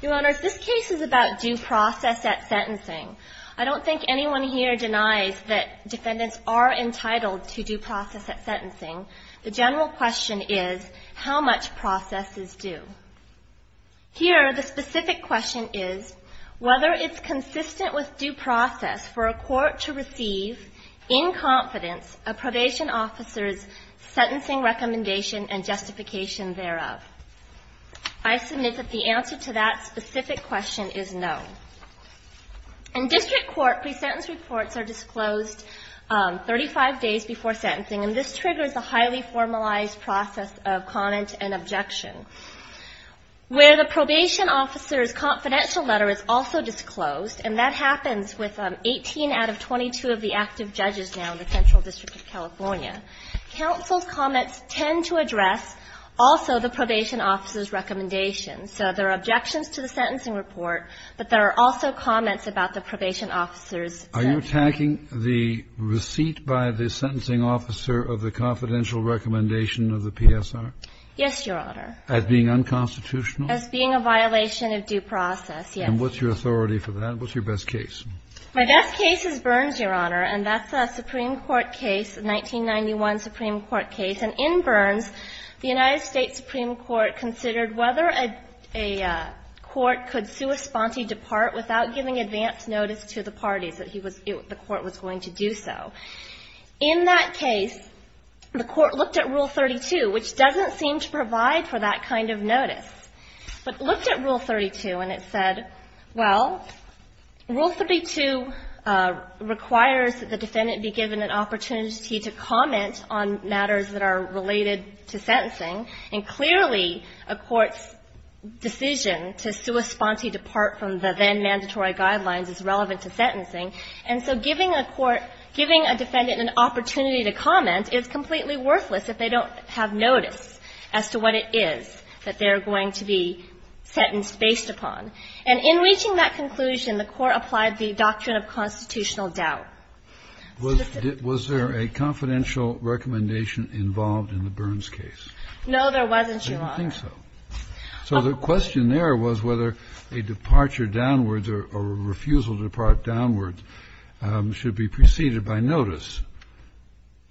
Your Honor, this case is about due process at sentencing. I don't think anyone here denies that defendants are entitled to due process at sentencing. The general question is, how much process is due? Here, the specific question is, whether it's consistent with due process for a court to receive, in confidence, a probation officer's sentencing recommendation and justification thereof. I submit that the answer to that specific question is no. In district court, pre-sentence reports are disclosed 35 days before sentencing, and this triggers a highly formalized process of comment and objection. Where the probation officer's confidential letter is also disclosed, and that happens with 18 out of 22 of the active judges now in the Central District of California, counsel's comments tend to address also the probation officer's recommendation. So there are objections to the sentencing report, but there are also comments about the probation officer's sentencing. Kennedy Are you attacking the receipt by the sentencing officer of the confidential recommendation of the PSR? Yes, Your Honor. As being unconstitutional? As being a violation of due process, yes. And what's your authority for that? What's your best case? My best case is Burns, Your Honor. And that's a Supreme Court case, a 1991 Supreme Court case. And in Burns, the United States Supreme Court considered whether a court could sua sponte depart without giving advance notice to the parties that he was – the court was going to do so. In that case, the court looked at Rule 32, which doesn't seem to provide for that kind of notice. But it looked at Rule 32, and it said, well, Rule 32 requires that the defendant be given an opportunity to comment on matters that are related to sentencing, and clearly a court's decision to sua sponte depart from the then-mandatory guidelines is relevant to sentencing. And so giving a court – giving a defendant an opportunity to comment is completely worthless if they don't have notice as to what it is that they're going to be sentenced based upon. And in reaching that conclusion, the court applied the doctrine of constitutional doubt. Was there a confidential recommendation involved in the Burns case? No, there wasn't, Your Honor. I didn't think so. So the question there was whether a departure downwards or a refusal to depart downwards should be preceded by notice.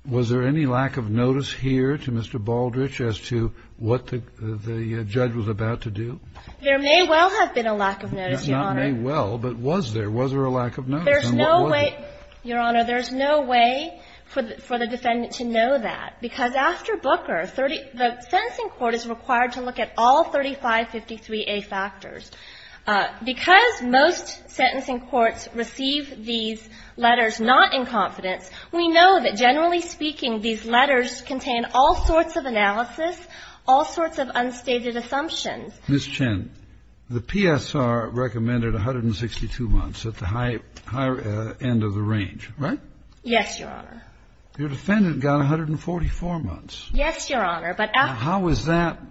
Was there any lack of notice here to Mr. Baldrige as to what the – the judge was about to do? There may well have been a lack of notice, Your Honor. Not may well, but was there? Was there a lack of notice? And what was it? There's no way – Your Honor, there's no way for the defendant to know that, because after Booker, the sentencing court is required to look at all 3553A factors. Because most sentencing courts receive these letters not in confidence, we know that, generally speaking, these letters contain all sorts of analysis, all sorts of unstated assumptions. Ms. Chen, the PSR recommended 162 months at the high – high end of the range, right? Yes, Your Honor. Your defendant got 144 months. Yes, Your Honor, but after – How is that –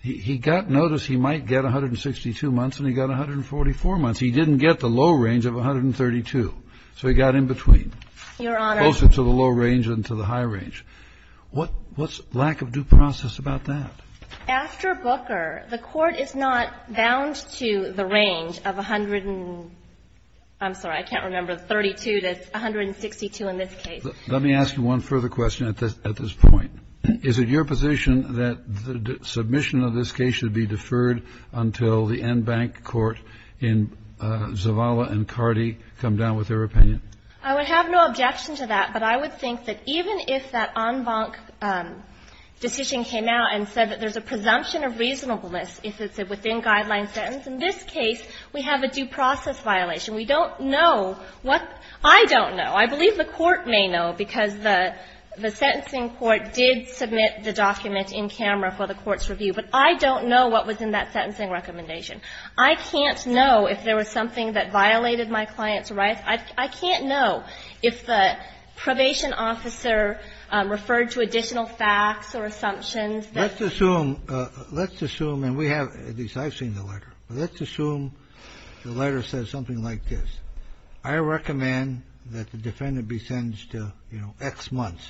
he got notice he might get 162 months and he got 144 months. He didn't get the low range of 132, so he got in between. Your Honor – Closer to the low range than to the high range. What's lack of due process about that? After Booker, the court is not bound to the range of 100 and – I'm sorry, I can't remember, 32 to 162 in this case. Let me ask you one further question at this point. Is it your position that the submission of this case should be deferred until the en banc court in Zavala and Cardi come down with their opinion? I would have no objection to that, but I would think that even if that en banc decision came out and said that there's a presumption of reasonableness if it's a within-guideline sentence, in this case, we have a due process violation. We don't know what – I don't know. I believe the court may know because the sentencing court did submit the document in camera for the court's review. But I don't know what was in that sentencing recommendation. I can't know if there was something that violated my client's rights. I can't know if the probation officer referred to additional facts or assumptions that – Let's assume – let's assume, and we have – at least I've seen the letter. Let's assume the letter says something like this. I recommend that the defendant be sentenced to X months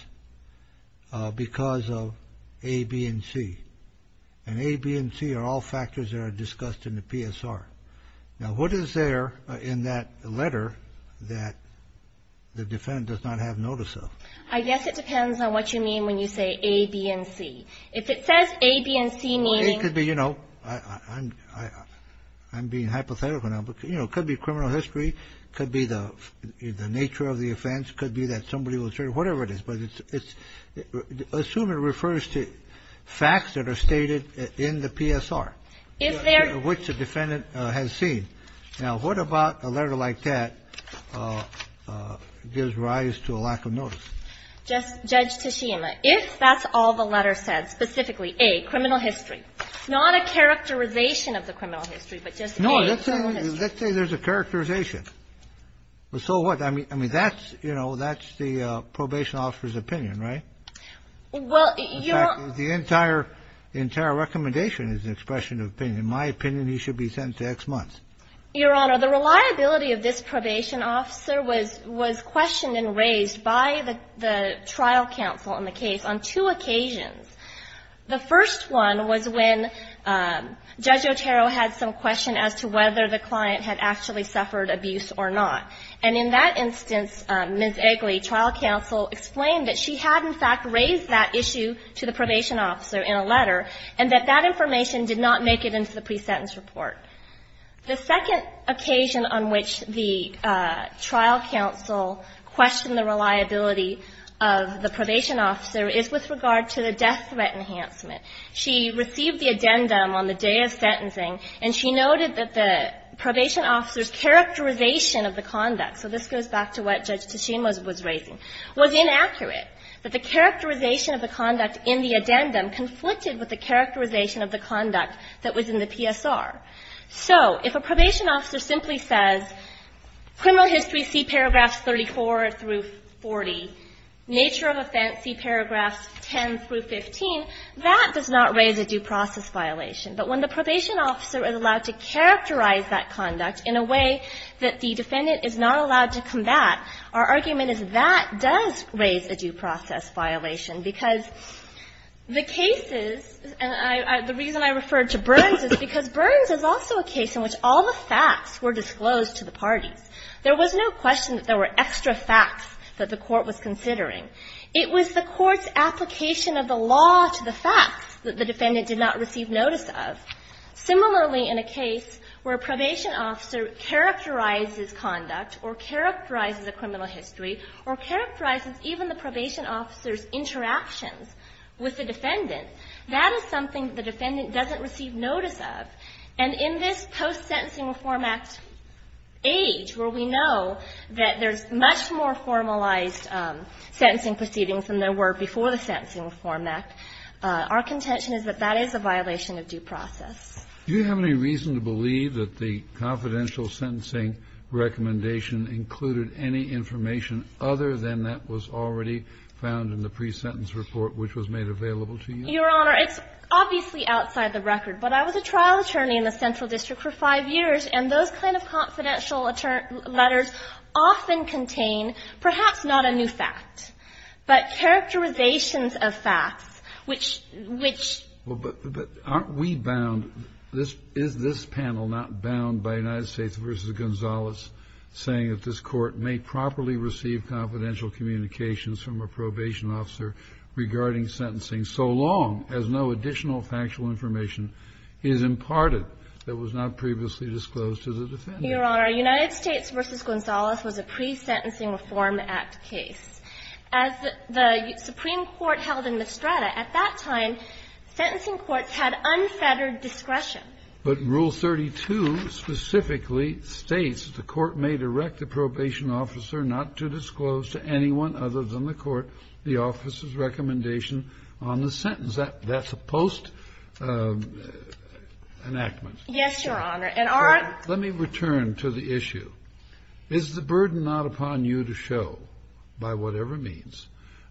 because of A, B, and C. And A, B, and C are all factors that are discussed in the PSR. Now, what is there in that letter that the defendant does not have notice of? I guess it depends on what you mean when you say A, B, and C. If it says A, B, and C, meaning – It could be, you know – I'm being hypothetical now. But, you know, it could be criminal history. It could be the nature of the offense. It could be that somebody will – whatever it is. But it's – assume it refers to facts that are stated in the PSR. If there – Which the defendant has seen. Now, what about a letter like that gives rise to a lack of notice? Judge Tashima, if that's all the letter said, specifically A, criminal history, not a characterization of the criminal history, but just A, criminal history. No. Let's say there's a characterization. So what? I mean, that's – you know, that's the probation officer's opinion, right? Well, Your Honor – In fact, the entire recommendation is an expression of opinion. In my opinion, he should be sentenced to X months. Your Honor, the reliability of this probation officer was questioned and raised by the trial counsel in the case on two occasions. The first one was when Judge Otero had some question as to whether the client had actually suffered abuse or not. And in that instance, Ms. Eggly, trial counsel, explained that she had, in fact, raised that issue to the probation officer in a letter, and that that information did not make it into the pre-sentence report. The second occasion on which the trial counsel questioned the reliability of the probation officer is with regard to the death threat enhancement. She received the addendum on the day of sentencing, and she noted that the probation officer's characterization of the conduct – so this goes back to what Judge Tashima was raising – was inaccurate, that the characterization of the conduct in the addendum conflicted with the characterization of the conduct that was in the PSR. So if a probation officer simply says, criminal history, see paragraphs 34 through 40, nature of offense, see paragraphs 10 through 15, that does not raise a due process violation. But when the probation officer is allowed to characterize that conduct in a way that the defendant is not allowed to combat, our argument is that does raise a due process violation, because the cases – and the reason I referred to Burns is because Burns is also a case in which all the facts were disclosed to the parties. There was no question that there were extra facts that the court was considering. It was the court's application of the law to the facts that the defendant did not receive notice of. Similarly, in a case where a probation officer characterizes conduct or characterizes a criminal history or characterizes even the probation officer's interactions with the defendant, that is something the defendant doesn't receive notice of. And in this post-Sentencing Reform Act age, where we know that there's much more formalized sentencing proceedings than there were before the Sentencing Reform Act, our contention is that that is a violation of due process. Do you have any reason to believe that the confidential sentencing recommendation included any information other than that was already found in the pre-sentence report which was made available to you? Your Honor, it's obviously outside the record. But I was a trial attorney in the Central District for five years, and those kind of confidential letters often contain perhaps not a new fact, but characterizations of facts, which — which — Well, but aren't we bound — is this panel not bound by United States v. Gonzalez saying that this Court may properly receive confidential communications from a probation officer regarding sentencing so long as no additional factual information is imparted that was not previously disclosed to the defendant? Your Honor, United States v. Gonzalez was a pre-Sentencing Reform Act case. As the Supreme Court held in Mistretta at that time, sentencing courts had unfettered discretion. But Rule 32 specifically states the court may direct the probation officer not to disclose to anyone other than the court the officer's recommendation on the sentence. That's a post-enactment. Yes, Your Honor. And our — Let me return to the issue. Is the burden not upon you to show, by whatever means,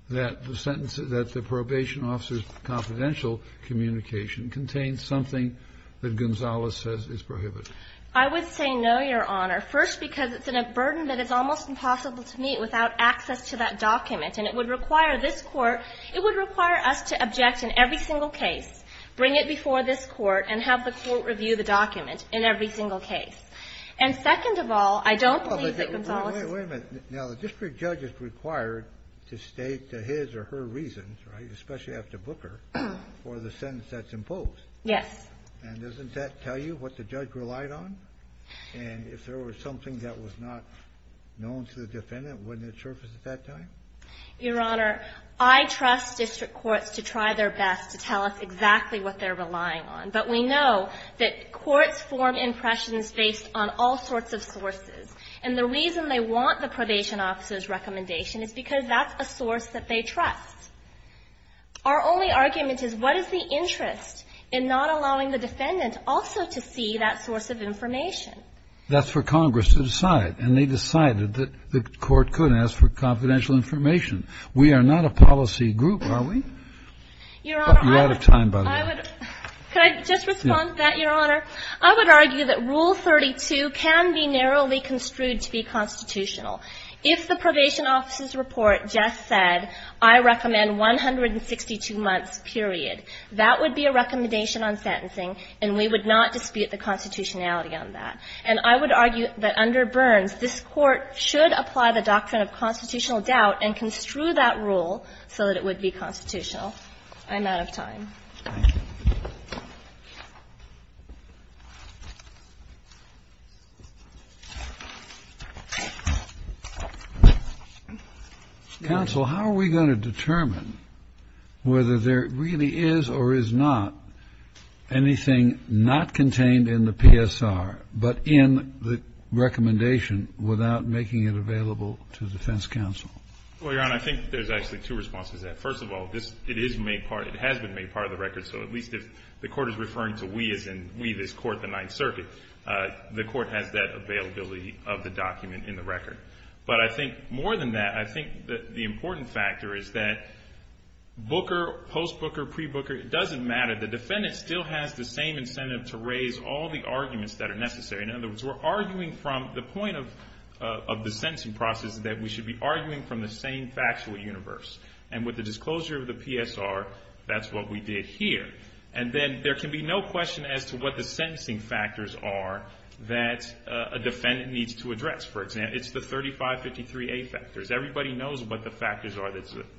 that the sentence — that the probation officer's confidential communication contains something that Gonzalez says is prohibited? I would say no, Your Honor, first because it's a burden that is almost impossible to meet without access to that document, and it would require this Court — it would require us to object in every single case, bring it before this Court and have the case. And second of all, I don't believe that Gonzalez — Wait a minute. Now, the district judge is required to state his or her reasons, right, especially after Booker, for the sentence that's imposed. Yes. And doesn't that tell you what the judge relied on? And if there was something that was not known to the defendant, wouldn't it surface at that time? Your Honor, I trust district courts to try their best to tell us exactly what they're relying on. But we know that courts form impressions based on all sorts of sources. And the reason they want the probation officer's recommendation is because that's a source that they trust. Our only argument is, what is the interest in not allowing the defendant also to see that source of information? That's for Congress to decide. And they decided that the Court could ask for confidential information. We are not a policy group, are we? Your Honor, I would — You're out of time, by the way. Could I just respond to that, Your Honor? I would argue that Rule 32 can be narrowly construed to be constitutional. If the probation officer's report just said, I recommend 162 months, period, that would be a recommendation on sentencing, and we would not dispute the constitutionality on that. And I would argue that under Burns, this Court should apply the doctrine of constitutional doubt and construe that rule so that it would be constitutional. I'm out of time. Thank you. Counsel, how are we going to determine whether there really is or is not anything not contained in the PSR but in the recommendation without making it available to defense counsel? Well, Your Honor, I think there's actually two responses to that. First of all, it has been made part of the record. So at least if the Court is referring to we as in we, this Court, the Ninth Circuit, the Court has that availability of the document in the record. But I think more than that, I think that the important factor is that booker, post-booker, pre-booker, it doesn't matter. The defendant still has the same incentive to raise all the arguments that are necessary. In other words, we're arguing from the point of the sentencing process that we should be arguing from the same factual universe. And with the disclosure of the PSR, that's what we did here. And then there can be no question as to what the sentencing factors are that a defendant needs to address. For example, it's the 3553A factors. Everybody knows what the factors are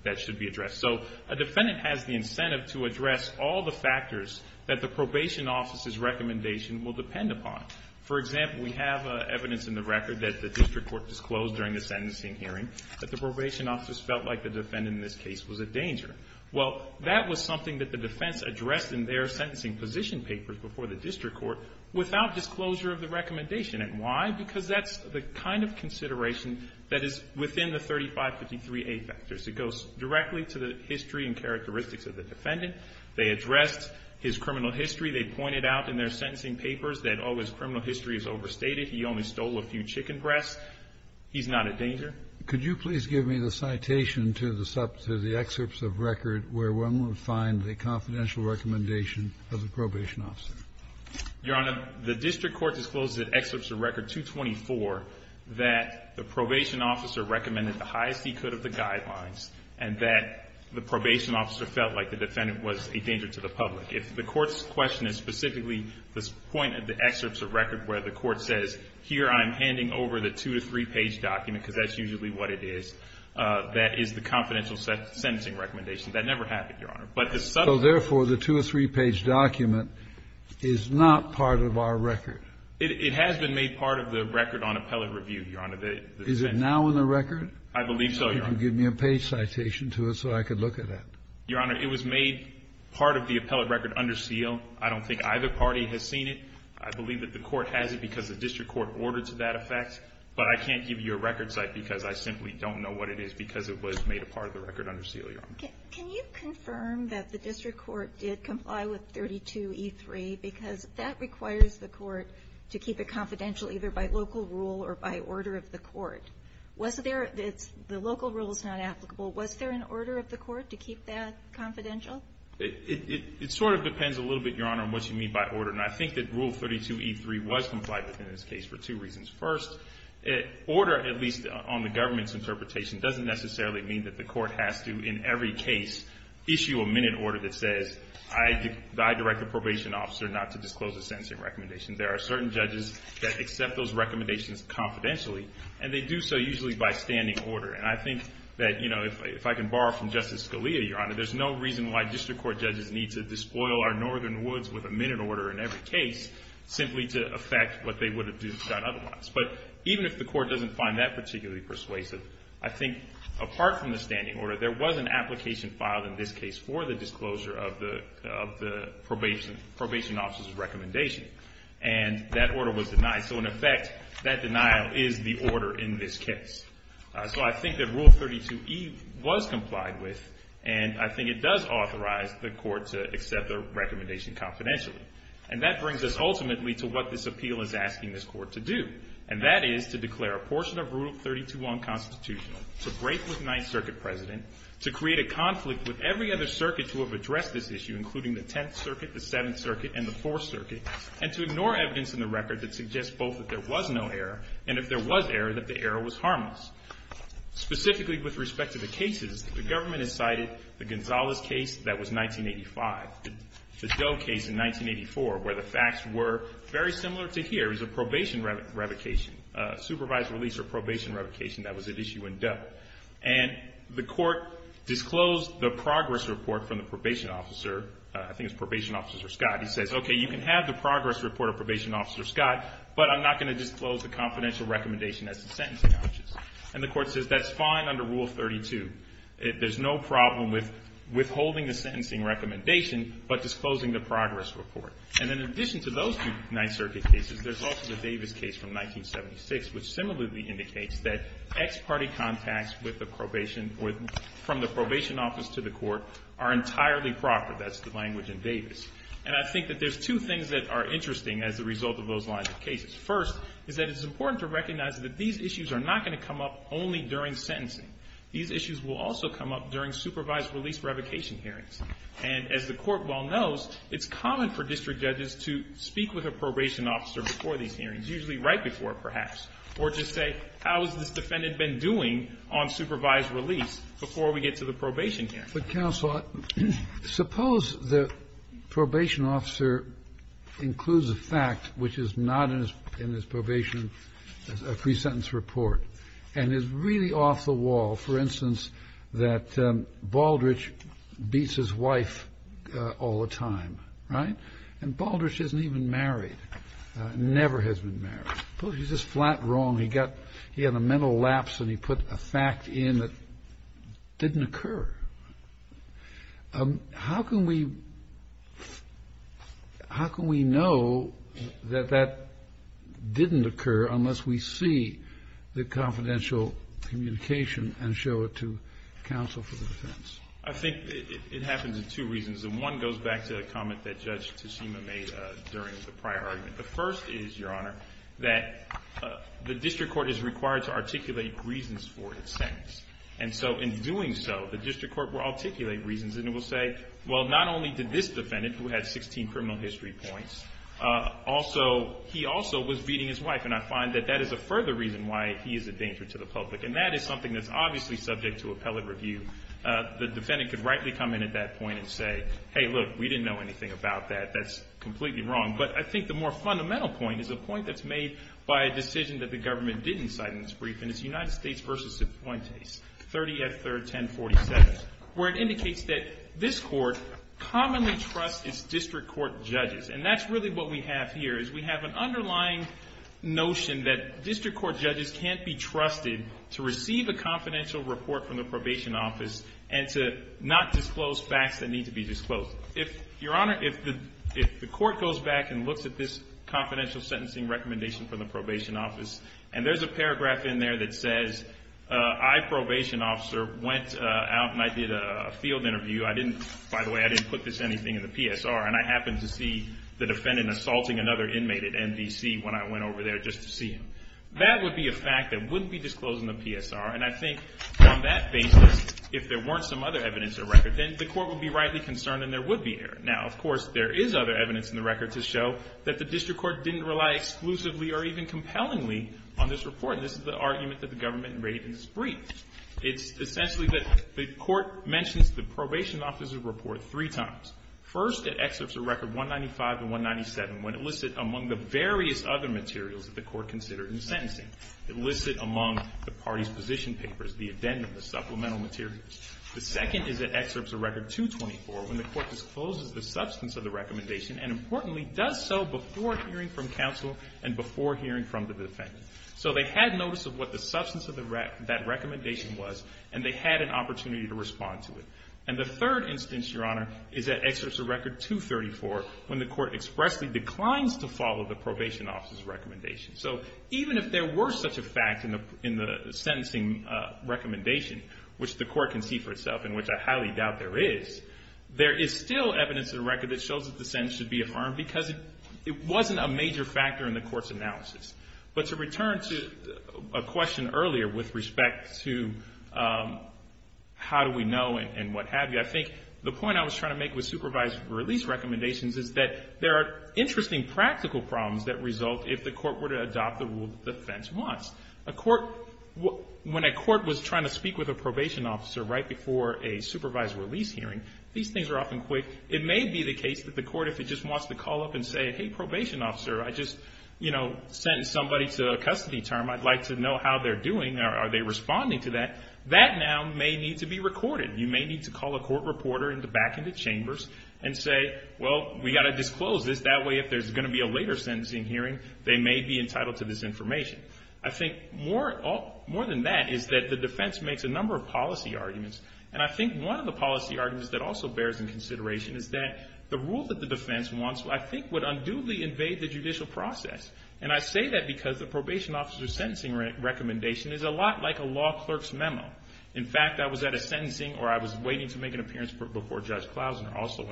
that should be addressed. So a defendant has the incentive to address all the factors that the probation office's recommendation will depend upon. For example, we have evidence in the record that the district court disclosed during the sentencing hearing that the probation office felt like the defendant in this case was a danger. Well, that was something that the defense addressed in their sentencing position papers before the district court without disclosure of the recommendation. And why? Because that's the kind of consideration that is within the 3553A factors. It goes directly to the history and characteristics of the defendant. They addressed his criminal history. They pointed out in their sentencing papers that, oh, his criminal history is overstated. He only stole a few chicken breasts. He's not a danger. Kennedy. Could you please give me the citation to the excerpts of record where one would find the confidential recommendation of the probation officer? Your Honor, the district court disclosed in excerpts of record 224 that the probation officer recommended the highest he could of the guidelines and that the probation officer felt like the defendant was a danger to the public. If the court's question is specifically the point of the excerpts of record where the court says, here, I'm handing over the two- to three-page document, because that's usually what it is, that is the confidential sentencing recommendation. That never happened, Your Honor. But the subsequent one. So, therefore, the two- or three-page document is not part of our record. It has been made part of the record on appellate review, Your Honor. Is it now in the record? I believe so, Your Honor. Could you give me a page citation to it so I could look at that? Your Honor, it was made part of the appellate record under seal. I don't think either party has seen it. I believe that the court has it because the district court ordered to that effect. But I can't give you a record site because I simply don't know what it is because it was made a part of the record under seal, Your Honor. Can you confirm that the district court did comply with 32E3 because that requires the court to keep it confidential either by local rule or by order of the court? Was there the local rule is not applicable. Was there an order of the court to keep that confidential? It sort of depends a little bit, Your Honor, on what you mean by order. And I think that Rule 32E3 was complied with in this case for two reasons. First, order, at least on the government's interpretation, doesn't necessarily mean that the court has to, in every case, issue a minute order that says, I direct a probation officer not to disclose a sentencing recommendation. There are certain judges that accept those recommendations confidentially, and they do so usually by standing order. And I think that, you know, if I can borrow from Justice Scalia, Your Honor, there's no reason why district court judges need to despoil our northern woods with a minute order in every case simply to affect what they would have done otherwise. But even if the court doesn't find that particularly persuasive, I think apart from the standing order, there was an application filed in this case for the disclosure of the probation officer's recommendation. And that order was denied. So in effect, that denial is the order in this case. So I think that Rule 32E was complied with, and I think it does authorize the court to accept the recommendation confidentially. And that brings us ultimately to what this appeal is asking this court to do, and that is to declare a portion of Rule 32 unconstitutional, to break with the 9th Circuit President, to create a conflict with every other circuit to have addressed this issue, including the 10th Circuit, the 7th Circuit, and the 4th Circuit, and to ignore evidence in the record that suggests both that there was no error, and if there was error, that the error was harmless. Specifically with respect to the cases, the government has cited the Gonzalez case that was 1985, the Doe case in 1984, where the facts were very similar to here. It was a probation revocation, supervised release or probation revocation that was at issue in Doe. And the court disclosed the progress report from the probation officer. I think it was probation officer Scott. He says, okay, you can have the progress report of probation officer Scott, but I'm not going to disclose the confidential recommendation as to sentencing options. And the court says, that's fine under Rule 32. There's no problem with withholding the sentencing recommendation, but disclosing the progress report. And in addition to those two 9th Circuit cases, there's also the Davis case from 1976, which similarly indicates that ex parte contacts with the probation or from the probation office to the court are entirely proper. That's the language in Davis. And I think that there's two things that are interesting as a result of those lines of cases. First is that it's important to recognize that these issues are not going to come up only during sentencing. These issues will also come up during supervised release revocation hearings. And as the court well knows, it's common for district judges to speak with a probation officer before these hearings, usually right before perhaps, or just say, how has this defendant been doing on supervised release before we get to the probation hearing? But counsel, suppose the probation officer includes a fact which is not in his probation, a pre-sentence report, and is really off the wall. For instance, that Baldrige beats his wife all the time, right? And Baldrige isn't even married, never has been married. Suppose he's just flat wrong. He had a mental lapse and he put a fact in that didn't occur. How can we know that that didn't occur unless we see the confidential communication and show it to counsel for the defense? I think it happens for two reasons. And one goes back to a comment that Judge Tishima made during the prior argument. The first is, Your Honor, that the district court is required to articulate reasons for its sentence. And so in doing so, the district court will articulate reasons. And it will say, well, not only did this defendant, who had 16 criminal history points, he also was beating his wife. And I find that that is a further reason why he is a danger to the public. And that is something that's obviously subject to appellate review. The defendant could rightly come in at that point and say, hey, look, we didn't know anything about that. That's completely wrong. But I think the more fundamental point is a point that's made by a decision that the government didn't cite in its brief, and it's United States v. Fuentes, 30th, 3rd, 1047, where it indicates that this court commonly trusts its district court judges. And that's really what we have here is we have an underlying notion that district court judges can't be trusted to receive a confidential report from the probation office and to not disclose facts that need to be disclosed. Your Honor, if the court goes back and looks at this confidential sentencing recommendation from the probation office, and there's a paragraph in there that says, I, probation officer, went out and I did a field interview. I didn't, by the way, I didn't put this anything in the PSR. And I happened to see the defendant assaulting another inmate at MDC when I went over there just to see him. That would be a fact that wouldn't be disclosed in the PSR. And I think on that basis, if there weren't some other evidence or record, then the court would be rightly concerned and there would be an error. Now, of course, there is other evidence in the record to show that the district court didn't rely exclusively or even compellingly on this report. And this is the argument that the government made in its brief. It's essentially that the court mentions the probation officer's report three times. First, it excerpts the record 195 and 197 when it listed among the various other materials that the court considered in sentencing. It listed among the party's position papers, the addendum, the supplemental materials. The second is it excerpts the record 224 when the court discloses the substance of the recommendation and, importantly, does so before hearing from counsel and before hearing from the defendant. So they had notice of what the substance of that recommendation was and they had an opportunity to respond to it. And the third instance, Your Honor, is it excerpts the record 234 when the court expressly declines to follow the probation officer's recommendation. So even if there were such a fact in the sentencing recommendation, which the court can see for itself and which I highly doubt there is, there is still evidence in the record that shows that the sentence should be affirmed because it wasn't a major factor in the court's analysis. But to return to a question earlier with respect to how do we know and what have you, I think the point I was trying to make with supervised release recommendations is that there are interesting practical problems that result if the court were to adopt the rule that the defense wants. When a court was trying to speak with a probation officer right before a supervised release hearing, these things are often quick. It may be the case that the court, if it just wants to call up and say, hey, probation officer, I just sentenced somebody to a custody term. I'd like to know how they're doing. Are they responding to that? That now may need to be recorded. You may need to call a court reporter back into chambers and say, well, we've got to disclose this. That way if there's going to be a later sentencing hearing, they may be entitled to this information. I think more than that is that the defense makes a number of policy arguments. And I think one of the policy arguments that also bears in consideration is that the rule that the defense wants, I think, would unduly invade the judicial process. And I say that because the probation officer's sentencing recommendation is a lot like a law clerk's memo. In fact, I was at a sentencing where I was waiting to make an appearance before Judge Klausner, also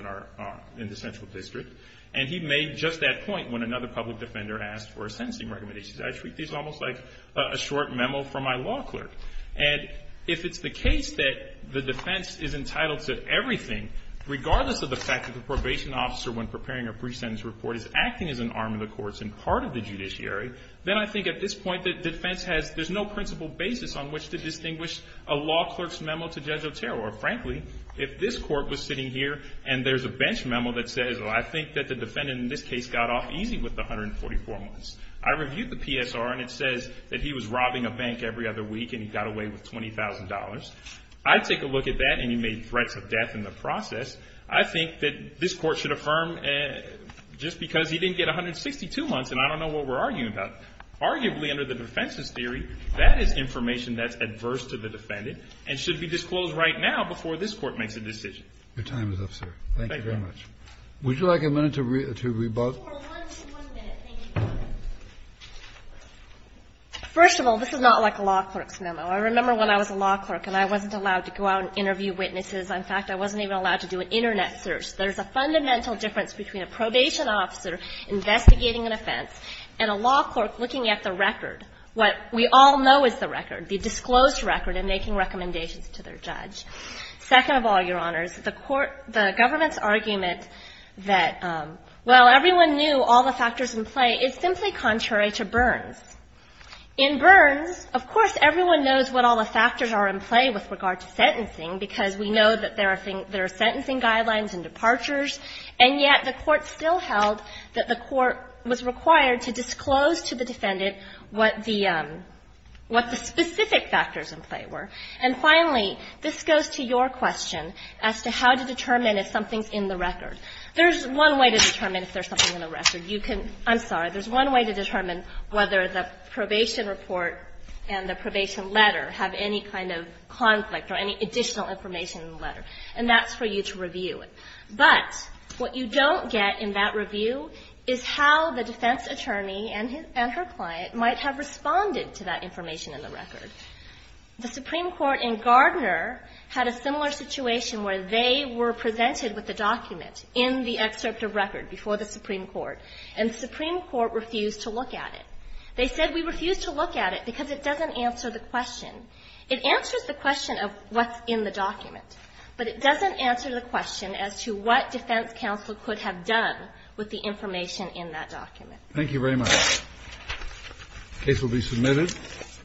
in the Central District, and he made just that point when another public defender asked for a sentencing recommendation. I treat these almost like a short memo from my law clerk. And if it's the case that the defense is entitled to everything, regardless of the fact that the probation officer, when preparing a pre-sentence report, is acting as an arm of the courts and part of the judiciary, then I think at this point that defense has, there's no principle basis on which to distinguish a law clerk's memo to Judge Otero. Or frankly, if this court was sitting here and there's a bench memo that says, I think that the defendant in this case got off easy with the 144 months. I reviewed the PSR and it says that he was robbing a bank every other week and he got away with $20,000. I'd take a look at that and he made threats of death in the process. I think that this court should affirm just because he didn't get 162 months, and I don't know what we're arguing about. Arguably, under the defense's theory, that is information that's adverse to the defendant and should be disclosed right now before this Court makes a decision. Your time is up, sir. Thank you very much. Thank you, Your Honor. Would you like a minute to rebut? One minute. Thank you. First of all, this is not like a law clerk's memo. I remember when I was a law clerk and I wasn't allowed to go out and interview witnesses. In fact, I wasn't even allowed to do an Internet search. There's a fundamental difference between a probation officer investigating an offense and a law clerk looking at the record, what we all know is the record, the disclosed record, and making recommendations to their judge. Second of all, Your Honors, the government's argument that while everyone knew all the factors in play is simply contrary to Burns. In Burns, of course, everyone knows what all the factors are in play with regard to sentencing, because we know that there are sentencing guidelines and departures, and yet the Court still held that the Court was required to disclose to the defendant what the specific factors in play were. And finally, this goes to your question as to how to determine if something's in the record. There's one way to determine if there's something in the record. You can – I'm sorry. There's one way to determine whether the probation report and the probation letter have any kind of conflict or any additional information in the letter, and that's for you to review. But what you don't get in that review is how the defense attorney and her client might have responded to that information in the record. The Supreme Court in Gardner had a similar situation where they were presented with a document in the excerpt of record before the Supreme Court, and the Supreme Court refused to look at it. They said, we refuse to look at it because it doesn't answer the question. It answers the question of what's in the document, but it doesn't answer the question as to what defense counsel could have done with the information in that document. Thank you very much. The case will be submitted.